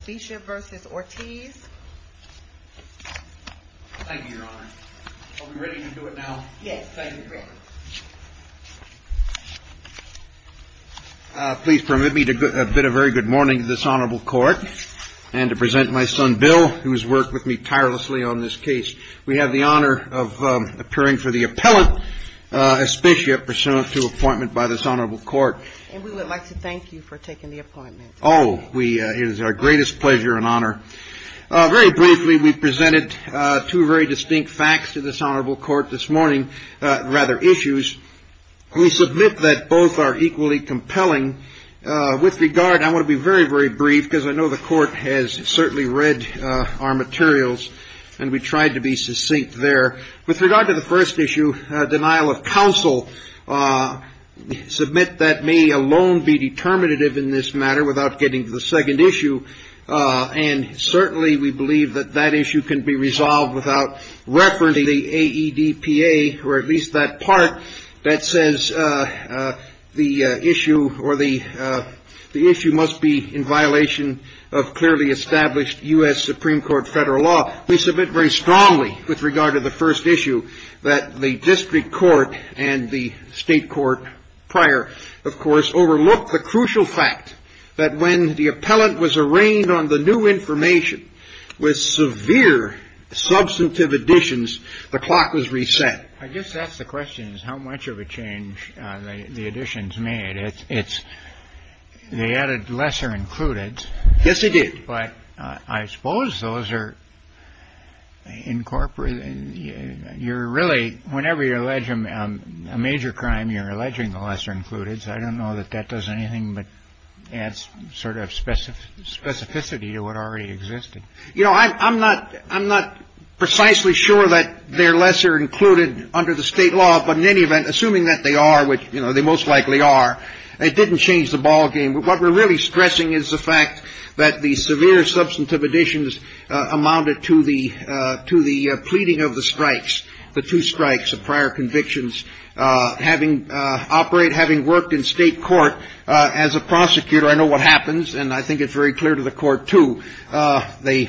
Thank you, your honor. Are we ready to do it now? Yes, thank you. Please permit me to bid a very good morning to this honorable court and to present my son Bill who has worked with me tirelessly on this case. We have the honor of appearing for the appellate ESPITIA pursuant to appointment by this honorable court. And we would like to thank you for this pleasure and honor. Very briefly, we presented two very distinct facts to this honorable court this morning, rather issues. We submit that both are equally compelling. With regard, I want to be very, very brief because I know the court has certainly read our materials and we tried to be succinct there. With regard to the first issue, denial of counsel, submit that may alone be determinative in this matter without getting to the second issue. And certainly we believe that that issue can be resolved without referencing the AEDPA or at least that part that says the issue must be in violation of clearly established U.S. Supreme Court federal law. We submit very strongly with regard to the first issue that the district court and the state court prior, of course, overlooked the was a rain on the new information with severe substantive additions. The clock was reset. I guess that's the question is how much of a change the additions made. It's they added lesser included. Yes, they did. But I suppose those are incorporated. You're really whenever you're alleged a major crime, you're alleging the lesser included. I don't know that that does anything but adds sort of specific specificity to what already existed. You know, I'm not I'm not precisely sure that they're lesser included under the state law. But in any event, assuming that they are, which they most likely are, it didn't change the ballgame. What we're really stressing is the fact that the severe substantive additions amounted to the to the pleading of the strikes, the two strikes of prior convictions having operate, having worked in state court as a prosecutor. I know what happens. And I think it's very clear to the court to the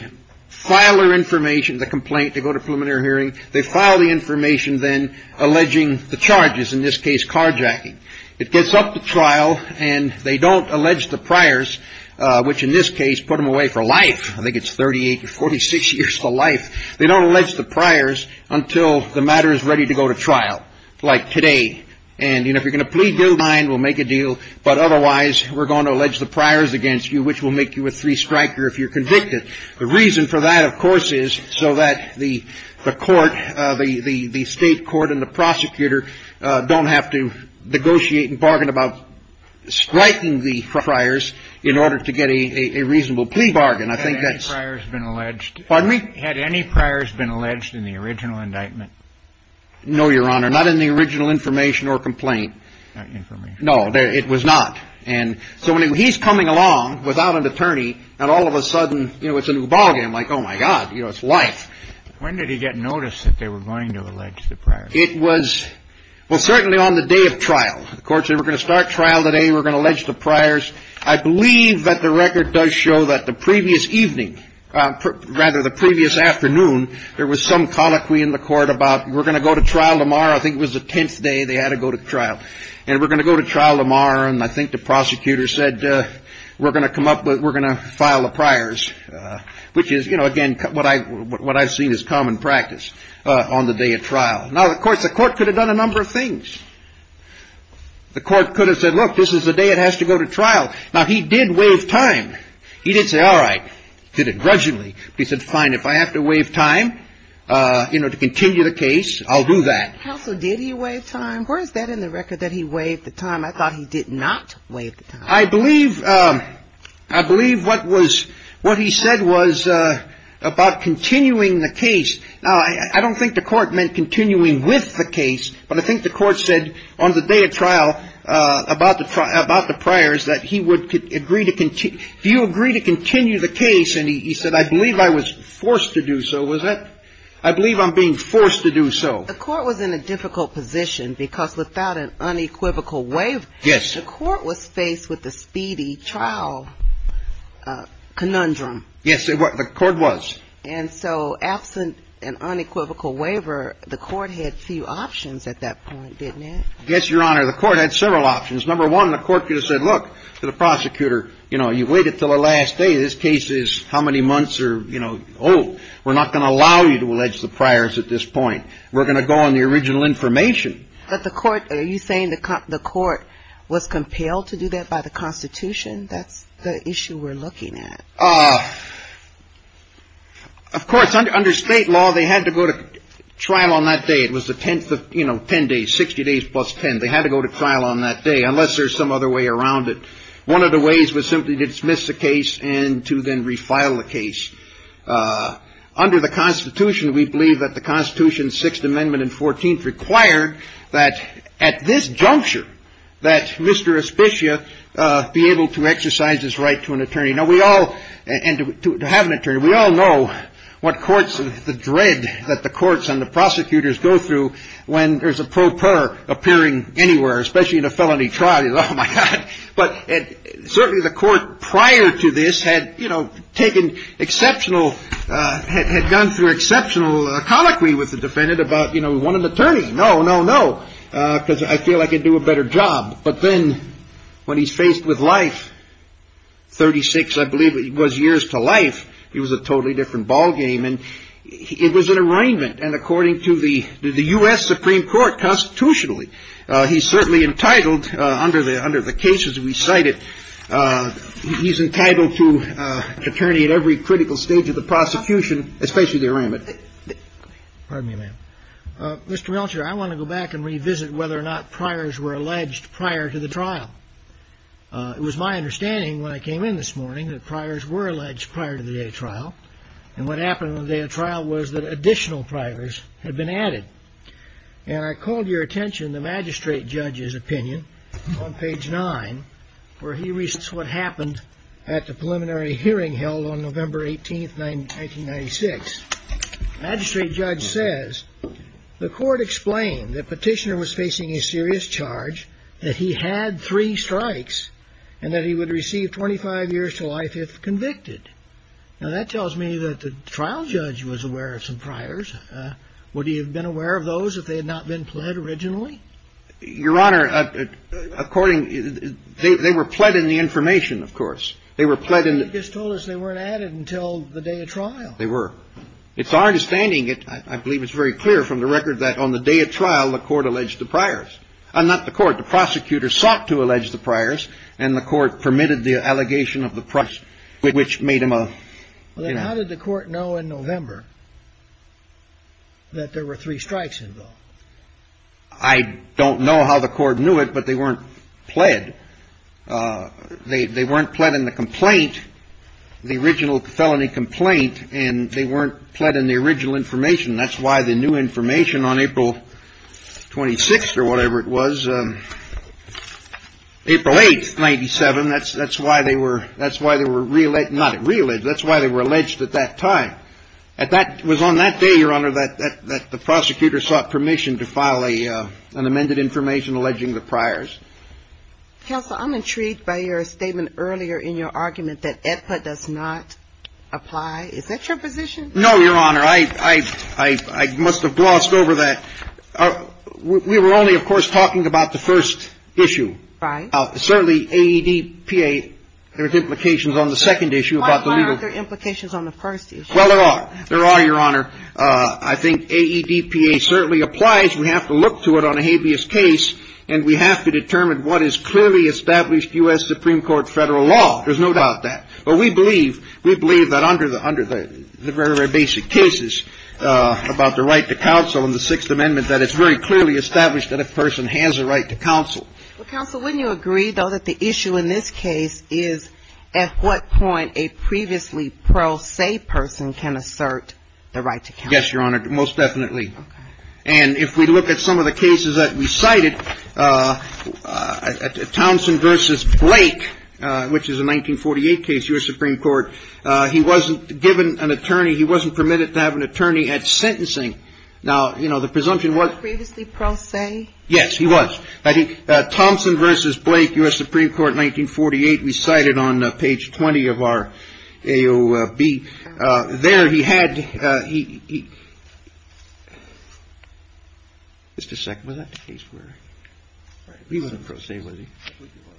filer information, the complaint to go to preliminary hearing. They file the information, then alleging the charges, in this case, carjacking. It gets up to trial and they don't allege the priors, which in this case put them away for life. I think it's 38 or 46 years of life. They don't allege the priors until the matter is go to trial like today. And, you know, if you're going to plead guilty, we'll make a deal. But otherwise, we're going to allege the priors against you, which will make you a three striker if you're convicted. The reason for that, of course, is so that the court, the state court and the prosecutor don't have to negotiate and bargain about striking the priors in order to get a reasonable plea bargain. I think that's been alleged. Pardon me? Had any priors been alleged in the original indictment? No, Your Honor. Not in the original information or complaint. Not information. No. It was not. And so when he's coming along without an attorney, and all of a sudden, you know, it's a new ballgame, like, oh, my God, you know, it's life. When did he get notice that they were going to allege the priors? It was, well, certainly on the day of trial. The court said, we're going to start trial today, we're going to allege the priors. I believe that the record does show that the previous evening, rather the previous afternoon, there was some colloquy in the court about we're going to go to trial tomorrow. I think it was the 10th day they had to go to trial. And we're going to go to trial tomorrow. And I think the prosecutor said, we're going to come up with, we're going to file the priors, which is, you know, again, what I've seen is common practice on the day of trial. Now, of course, the court could have done a number of things. The court could have said, look, this is the day it has to go to trial. Now, he did waive time. He did say, all right, he did it grudgingly. He said, fine, if I have to waive time, you know, to continue the case, I'll do that. How so did he waive time? Where is that in the record that he waived the time? I thought he did not waive the time. I believe, I believe what was, what he said was about continuing the case. Now, I don't think the court meant continuing with the case, but I think the court said on the day of trial about the, about the priors that he would agree to, do you agree to continue the case? And he said, I believe I was forced to do so. Was that, I believe I'm being forced to do so. The court was in a difficult position because without an unequivocal waiver, the court was faced with the speedy trial conundrum. Yes, the court was. And so absent an unequivocal waiver, the court had few options at that point, didn't it? Yes, Your Honor, the court had several options. Number one, the court could have said, look, to the prosecutor, you know, you've waited until the last day. This case is how many months or, you know, oh, we're not going to allow you to allege the priors at this point. We're going to go on the original information. But the court, are you saying the court was compelled to do that by the Constitution? That's the issue we're looking at. Of course, under state law, they had to go to trial on that day. It was the 10th of, you know, 10 days, 60 days plus 10. They had to go to trial on that day unless there's some other way around it. One of the ways was simply to dismiss the case and to then refile the case. Under the Constitution, we believe that the Constitution, Sixth Amendment and 14th, require that at this juncture, that Mr. Aspicia be able to exercise his right to an attorney. Now, we all, and to have an attorney, we all know what courts, the dread that the courts and the prosecutors go through when there's a pro per appearing anywhere, especially in a felony trial, is, oh, my God. But certainly the court prior to this had, you know, taken exceptional, had gone through exceptional colloquy with the defendant about, you know, we want an attorney. No, no, no. Because I feel I could do a better job. But then when he's faced with life, 36, I believe it was, years to life, it was a totally different ballgame. And it was an arraignment. And according to the U.S. Supreme Court constitutionally, he's certainly entitled, under the cases we cited, he's entitled to attorney at every critical stage of the prosecution, especially the arraignment. Pardon me, ma'am. Mr. Melcher, I want to go back and revisit whether or not priors were alleged prior to the trial. It was my understanding when I came in this morning that priors were alleged prior to the day of trial. And what happened on the day of trial was that additional priors had been added. And I called your attention to the magistrate judge's opinion on page 9, where he lists what happened at the preliminary hearing held on November 18, 1996. Magistrate judge says, the court explained that petitioner was facing a serious charge, that he had three strikes, and that he would receive 25 years to life if convicted. Now, that tells me that the trial judge was aware of some priors. Would he have been aware of those if they had not been pled originally? Your Honor, according — they were pled in the information, of course. They were pled in the — But you just told us they weren't added until the day of trial. They were. It's our understanding, I believe it's very clear from the record, that on the day of trial, the court alleged the priors. Not the court. The prosecutor sought to allege the priors, and the court permitted the allegation of the priors, which made him a — Well, then how did the court know in November that there were three strikes involved? I don't know how the court knew it, but they weren't pled. They weren't pled in the complaint, the original felony complaint, and they weren't pled in the original information. That's why the new information on April 26 or whatever it was, April 8, 1997, that's why they were — that's why they were — not re-alleged, that's why they were alleged at that time. It was on that day, Your Honor, that the prosecutor sought permission to file an amended information alleging the priors. Counsel, I'm intrigued by your statement earlier in your argument that EDPA does not apply. Is that your position? No, Your Honor. I must have glossed over that. We were only, of course, talking about the first issue. Right. Certainly, AEDPA — there's implications on the second issue about the legal — Why aren't there implications on the first issue? Well, there are. There are, Your Honor. I think AEDPA certainly applies. We have to look to it on a habeas case, and we have to determine what is clearly established U.S. Supreme Court federal law. There's no doubt that. But we believe — we believe that under the — under the very, very basic cases about the right to counsel in the Sixth Amendment, that it's very clearly established that a person has a right to counsel. Well, Counsel, wouldn't you agree, though, that the issue in this case is at what point a previously pro se person can assert the right to counsel? Yes, Your Honor, most definitely. Okay. And if we look at some of the cases that we cited, Townsend v. Blake, which is a 1948 case, U.S. Supreme Court, he wasn't given an attorney — he wasn't permitted to have an attorney at sentencing. Now, you know, the presumption was — Previously pro se? Yes, he was. I think Townsend v. Blake, U.S. Supreme Court, 1948, we cited on page 20 of our AOB. There, he had — just a second. Was that the case where — he wasn't pro se, was he?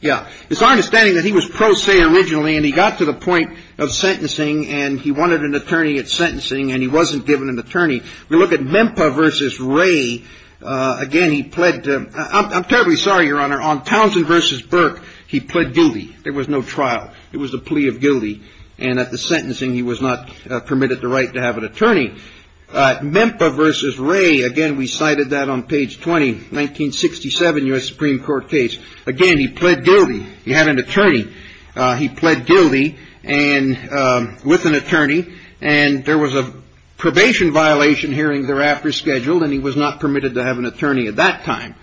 Yeah. It's our understanding that he was pro se originally, and he got to the point of sentencing, and he wanted an attorney at sentencing, and he wasn't given an attorney. We look at Mempa v. Ray. Again, he pled — I'm terribly sorry, Your Honor. On Townsend v. Burke, he pled guilty. There was no trial. It was a plea of guilty, and at the sentencing, he was not permitted the right to have an attorney. Mempa v. Ray, again, we cited that on page 20, 1967 U.S. Supreme Court case. Again, he pled guilty. He had an attorney. He pled guilty and — with an attorney, and there was a probation violation hearing thereafter scheduled, and he was not permitted to have an attorney at that time.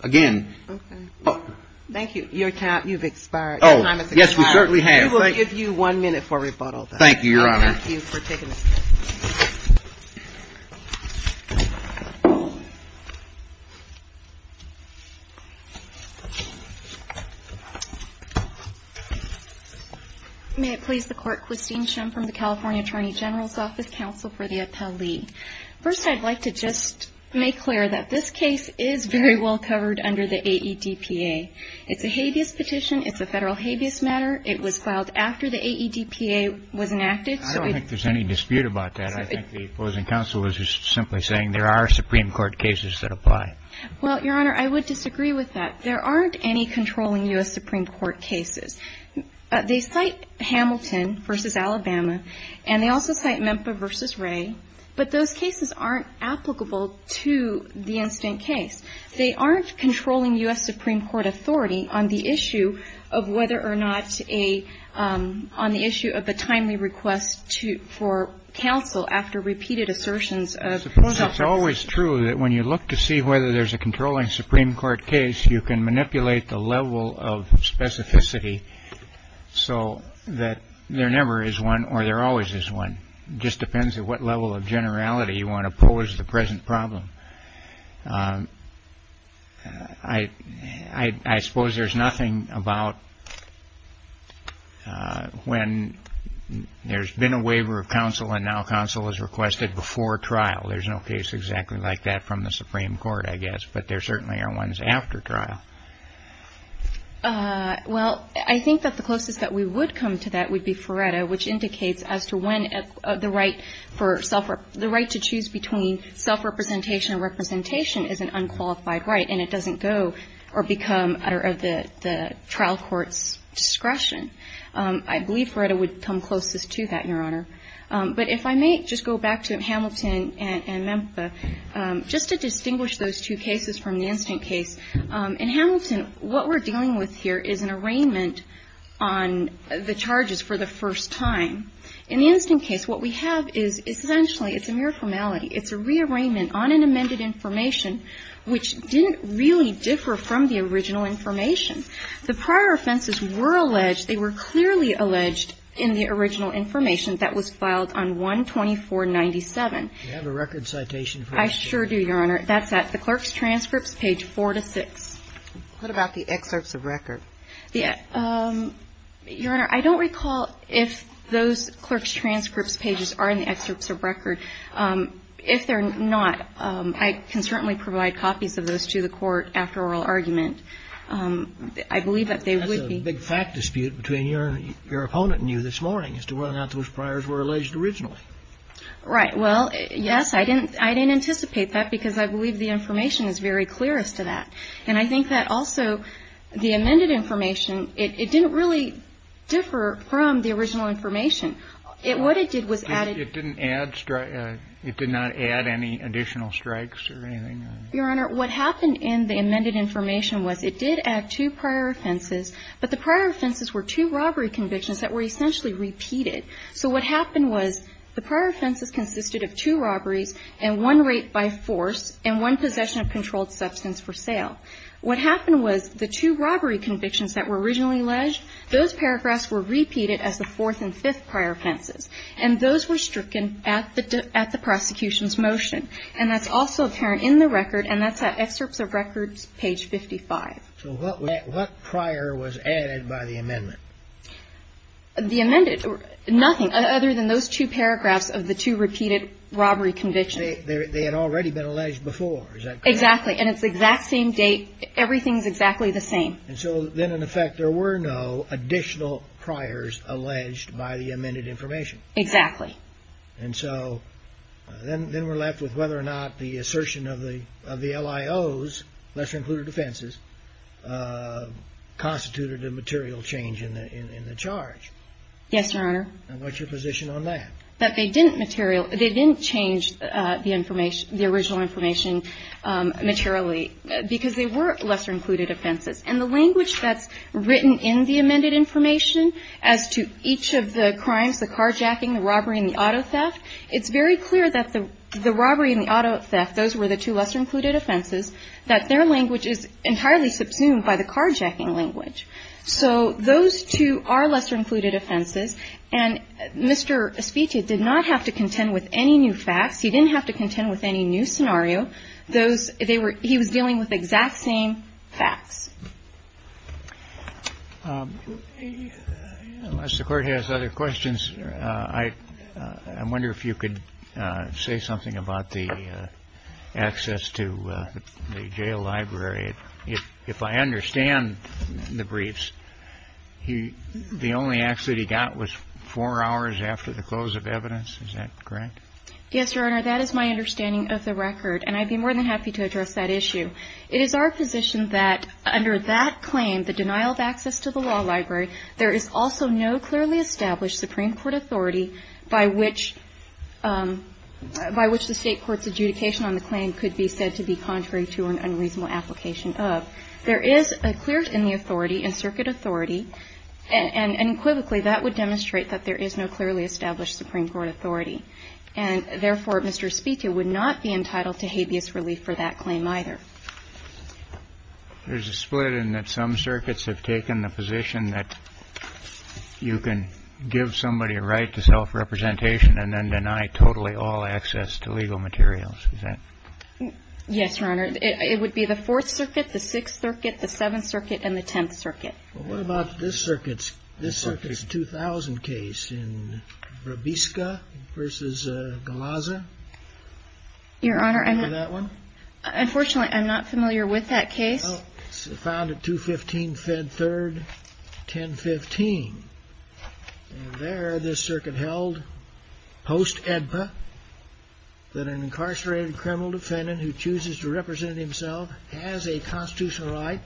Again — Okay. Thank you. Your time — you've expired. Oh, yes, we certainly have. We will give you one minute for rebuttal, though. Thank you, Your Honor. Thank you for taking the time. May it please the Court, Christine Shum from the California Attorney General's Office, counsel for the appellee. First, I'd like to just make clear that this case is very well covered under the AEDPA. It's a habeas petition. It's a federal habeas matter. It was filed after the AEDPA was enacted, so — Well, I don't see any dispute about that. I think the opposing counsel was just simply saying there are Supreme Court cases that apply. Well, Your Honor, I would disagree with that. There aren't any controlling U.S. Supreme Court cases. They cite Hamilton v. Alabama, and they also cite Mempa v. Ray, but those cases aren't applicable to the incident case. They aren't controlling U.S. Supreme Court authority on the issue of whether or not a — on the issue of a counsel after repeated assertions of — Suppose it's always true that when you look to see whether there's a controlling Supreme Court case, you can manipulate the level of specificity so that there never is one or there always is one. It just depends at what level of generality you want to pose the present problem. I suppose there's nothing about when there's been a waiver of counsel, and now counsel is requested before trial. There's no case exactly like that from the Supreme Court, I guess, but there certainly are ones after trial. Well, I think that the closest that we would come to that would be Feretta, which indicates as to when the right for — the right to choose between self-representation and representation is an unqualified right, and it doesn't go or become out of the trial court's discretion. I believe Feretta would come closest to that, Your Honor. But if I may just go back to Hamilton and Memphis, just to distinguish those two cases from the incident case. In Hamilton, what we're dealing with here is an arraignment on the charges for the first time. In the incident case, what we have is essentially it's a mere formality. It's a rearrangement on an amended information which didn't really differ from the original information. The prior offenses were alleged. They were clearly alleged in the original information that was filed on 12497. Do you have a record citation for that? I sure do, Your Honor. That's at the clerk's transcripts, page four to six. What about the excerpts of record? Your Honor, I don't recall if those clerk's transcripts pages are in the excerpts of record. If they're not, I can certainly provide copies of those to the court after oral argument. I believe that they would be... That's a big fact dispute between your opponent and you this morning, as to whether or not those priors were alleged originally. Right. Well, yes, I didn't anticipate that because I believe the information is very clear as to that. And I think that also the amended information, it didn't really differ from the original information. What it did was add... It didn't add... It did not add any additional strikes or anything? Your Honor, what happened in the amended information was it did add two prior offenses, but the prior offenses were two robbery convictions that were essentially repeated. So what happened was the prior offenses consisted of two robberies and one rape by force and one possession of controlled substance for sale. What happened was the two robbery convictions that were originally alleged, those paragraphs were repeated as the fourth and fifth prior offenses. And those were stricken at the prosecution's motion. And that's also apparent in the record, and that's at excerpts of records, page 55. So what prior was added by the amendment? The amended, nothing other than those two paragraphs of the two repeated robbery convictions. They had already been alleged before, is that correct? Exactly. And it's the exact same date. Everything's exactly the same. And so then, in effect, there were no additional priors alleged by the amended information. Exactly. And so then we're left with whether or not the assertion of the LIOs, lesser included offenses, constituted a material change in the charge. Yes, Your Honor. And what's your position on that? That they didn't material... They didn't change the original information materially, because they were lesser included offenses. And the language that's written in the amended information as to each of the crimes, the carjacking, the robbery, and the auto theft, it's very clear that the robbery and the auto theft, those were the two lesser included offenses, that their language is entirely subsumed by the carjacking language. So those two are lesser included offenses. And Mr. Asfiti did not have to contend with any new facts. He didn't have to contend with any new scenario. He was dealing with exact same facts. Unless the Court has other questions, I wonder if you could say something about the access to the jail library. If I understand the briefs, the only access he got was four hours after the close of evidence. Is that correct? Yes, Your Honor. That is my understanding of the record. And I'd be more than happy to address that issue. It is our position that under that claim, the denial of access to the law library, there is also no clearly established Supreme Court authority by which the State Court's adjudication on the claim could be said to be contrary to an unreasonable application of. There is a clear in the authority, in circuit authority, and equivocally, that would demonstrate that there is no clearly established Supreme Court authority. And therefore, Mr. Asfiti would not be entitled to habeas relief for that claim either. There's a split in that some circuits have taken the position that you can give somebody a right to self-representation and then deny totally all access to legal materials. Is that? Yes, Your Honor. It would be the Fourth Circuit, the Sixth Circuit, the Seventh Circuit, and the Tenth Circuit. Well, what about this circuit's 2000 case in Brabiska v. Galazza? Your Honor, I'm... Remember that one? Unfortunately, I'm not familiar with that case. Well, it's found at 215 Fed 3rd, 1015. And there, this circuit held post-EDPA that an incarcerated criminal defendant who chooses to represent himself has a constitutional right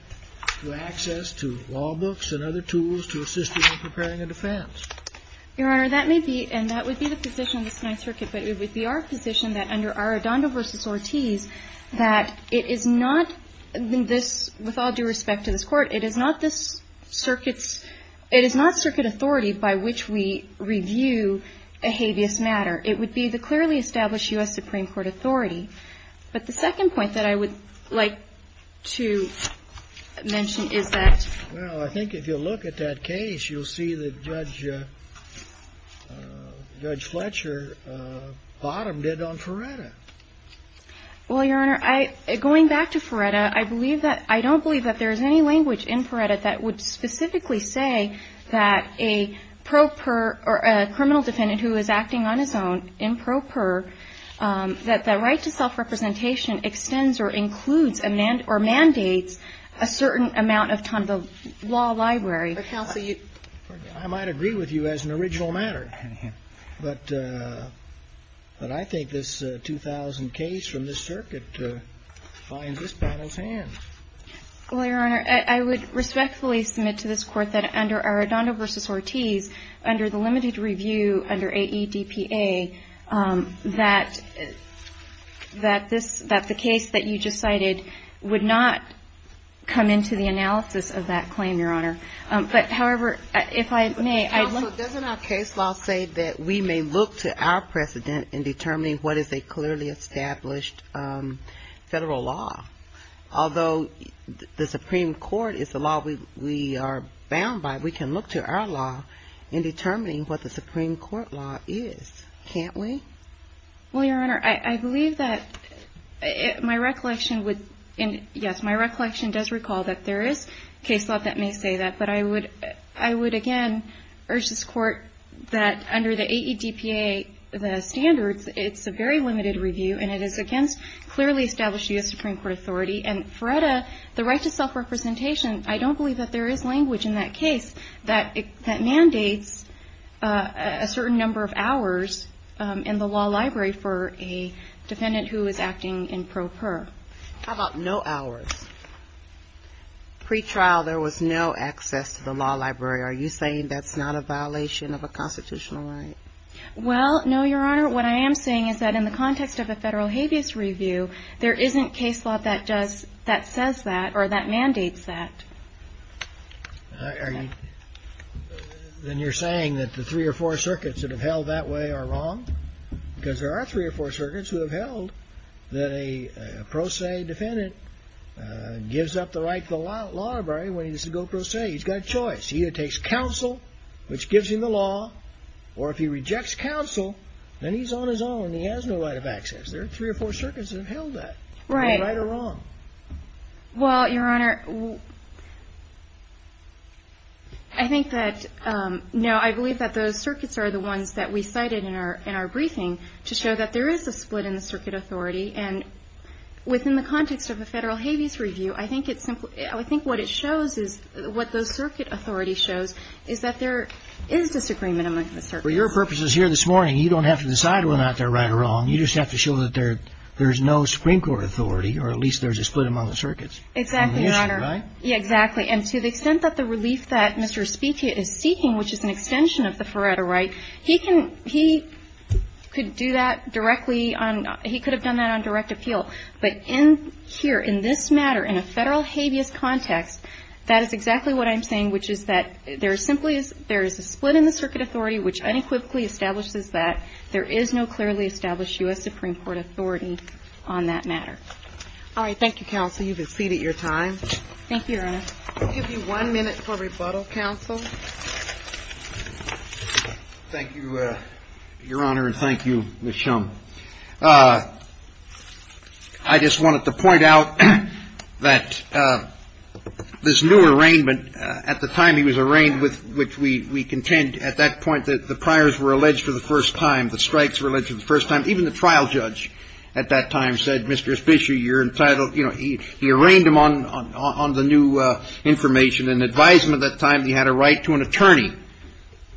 to access to law books and other tools to assist in preparing a defense. Your Honor, that may be, and that would be the position of the Ninth Circuit, but it would be our position that under Arradondo v. Ortiz, that it is not this, with all due respect to this Court, it is not this circuit's, it is not circuit authority by which we review a habeas matter. It would be the clearly established U.S. Supreme Court authority. But the second point that I would like to mention is that... Well, I think if you look at that case, you'll see that Judge Fletcher bottomed it on Feretta. Well, Your Honor, I, going back to Feretta, I believe that, I don't believe that there's any language in Feretta that would specifically say that a pro per, or a criminal defendant who is acting on his own, in pro per, that the right to self-representation extends or includes or mandates a certain amount of time in the law library. But counsel, you... I might agree with you as an original matter, but I think this 2000 case from this circuit finds this panel's hand. Well, Your Honor, I would respectfully submit to this Court that under Arradondo v. Ortiz, under the limited review under AEDPA, that this, that the case that you just cited would not come into the analysis of that claim, Your Honor. But however, if I may, I'd like... Counsel, doesn't our case law say that we may look to our precedent in determining what is a clearly established federal law? Although the Supreme Court is the law we are bound by, we can look to our law in determining what the Supreme Court law is, can't we? Well, Your Honor, I believe that my recollection would... And yes, my recollection does recall that there is case law that may say that, but I would again urge this Court that under the AEDPA, the standards, it's a very limited review and it is against clearly established US Supreme Court authority. And Feretta, the right to self-representation, I don't believe that there is language in that case that mandates a certain number of hours in the law library for a defendant who is acting in pro per. How about no hours? Pre-trial, there was no access to the law library. Are you saying that's not a violation of a constitutional right? Well, no, Your Honor. What I am saying is that in the context of a federal habeas review, there isn't case law that does, that says that or that mandates that. All right, are you... Then you're saying that the three or four circuits that have held that way are wrong? Because there are three or four circuits who have held that a pro se defendant gives up the right to the law library when he's a go-pro se. He's got a choice. He either takes counsel, which gives him the law, or if he rejects counsel, then he's on his own and he has no right of access. There are three or four circuits that have held that. Right. No right or wrong. Well, Your Honor, I think that, no, I believe that those circuits are the ones that we cited in our briefing to show that there is a split in the circuit authority. And within the context of a federal habeas review, I think it's simple. I think what it shows is, what those circuit authority shows, is that there is disagreement among the circuits. Well, your purpose is here this morning. You don't have to decide whether or not they're right or wrong. You just have to show that there's no Supreme Court authority, or at least there's a split among the circuits. Exactly, Your Honor. Right. Yeah, exactly. And to the extent that the relief that Mr. Spiegel is seeking, which is an extension of the Feretta right, he can, he could do that directly on, he could have done that on direct appeal. But in here, in this matter, in a federal habeas context, that is exactly what I'm saying, which is that there simply is, there is a split in the circuit authority, which unequivocally establishes that there is no clearly established U.S. Supreme Court authority on that matter. All right. Thank you, counsel. You've exceeded your time. Thank you, Your Honor. We'll give you one minute for rebuttal, counsel. Thank you, Your Honor, and thank you, Ms. Shum. I just wanted to point out that this new arraignment, at the time he was arraigned with, which we contend at that point that the priors were alleged for the first time, the strikes were alleged for the first time, even the trial judge at that time said, Mr. Fisher, you're entitled, you know, he arraigned him on the new information and advised him at that time that he had a right to an attorney.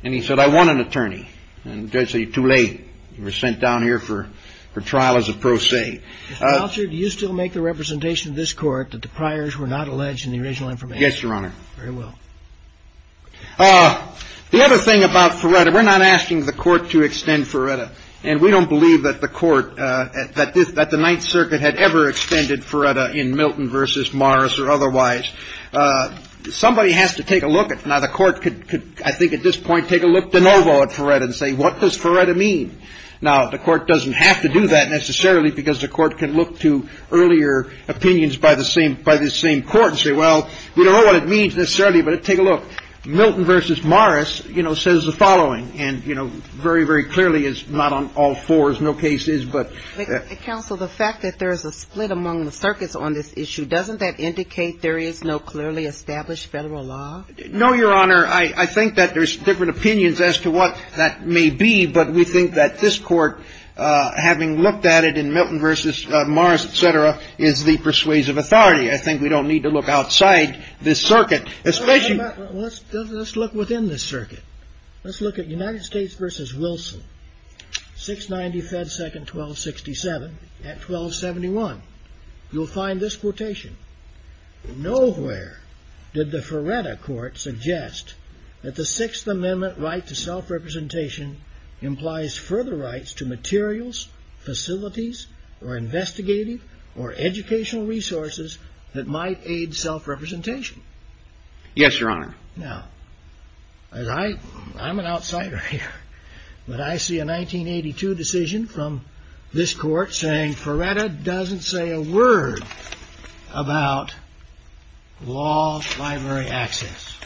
And he said, I want an attorney. And the judge said, you're too late. You were sent down here for trial as a pro se. Mr. Falcher, do you still make the representation of this Court that the priors were not alleged in the original information? Yes, Your Honor. Very well. The other thing about Feretta, we're not asking the Court to extend Feretta, and we don't believe that the Court, that the Ninth Circuit had ever extended Feretta in Milton v. Morris or otherwise. Somebody has to take a look at it. Now, the Court could, I think at this point, take a look de novo at Feretta and say, what does Feretta mean? Now, the Court doesn't have to do that necessarily, because the Court can look to earlier opinions by the same Court and say, well, we don't know what it means necessarily, but take a look. Milton v. Morris, you know, says the following, and, you know, very, very clearly is not on all fours. No case is, but. Counsel, the fact that there is a split among the circuits on this issue, doesn't that indicate there is no clearly established federal law? No, Your Honor. I think that there's different opinions as to what that may be, but we think that this Court, having looked at it in Milton v. Morris, et cetera, is the persuasive authority. I think we don't need to look outside this circuit, especially. Well, let's look within this circuit. Let's look at United States v. Wilson, 690 Fed Second 1267 at 1271. You'll find this quotation, nowhere did the Feretta Court suggest that the Sixth Amendment right to self-representation implies further rights to materials, facilities, or investigative or educational resources that might aid self-representation. Yes, Your Honor. Now, as I, I'm an outsider here, but I see a 1982 decision from this Court saying Feretta doesn't say a word about law library access.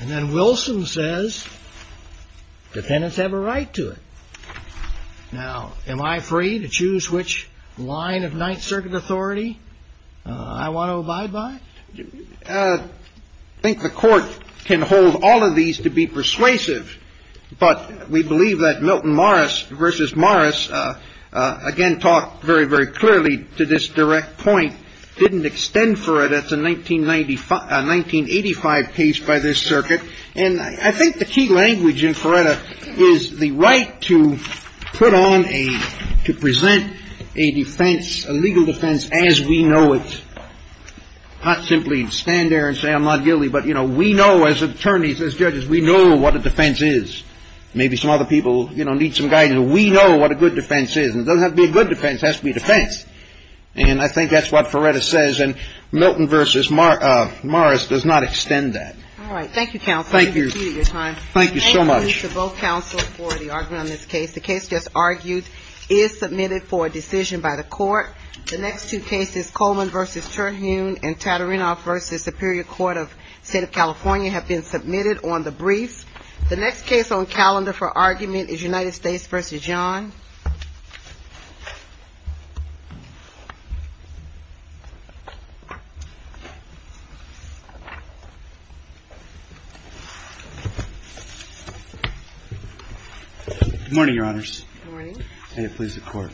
And then Wilson says, dependents have a right to it. Now, am I free to choose which line of Ninth Circuit authority I want to abide by? I think the Court can hold all of these to be persuasive, but we believe that Milton Morris v. Morris, again, talked very, very clearly to this direct point, didn't extend Feretta to 1985 case by this circuit. And I think the key language in Feretta is the right to put on a, to present a defense, a legal defense as we know it. Not simply stand there and say I'm not guilty, but, you know, we know as attorneys, as judges, we know what a defense is. Maybe some other people, you know, need some guidance. We know what a good defense is. And it doesn't have to be a good defense, it has to be a defense. And I think that's what Feretta says. And Milton v. Morris does not extend that. All right. Thank you, counsel. Thank you. Thank you so much. Thank you to both counsel for the argument on this case. The case just argued is submitted for a decision by the court. The next two cases, Coleman v. Terhune and Tatarinoff v. Superior Court of State of California have been submitted on the briefs. The next case on calendar for argument is United States v. John. Good morning, Your Honors. Good morning.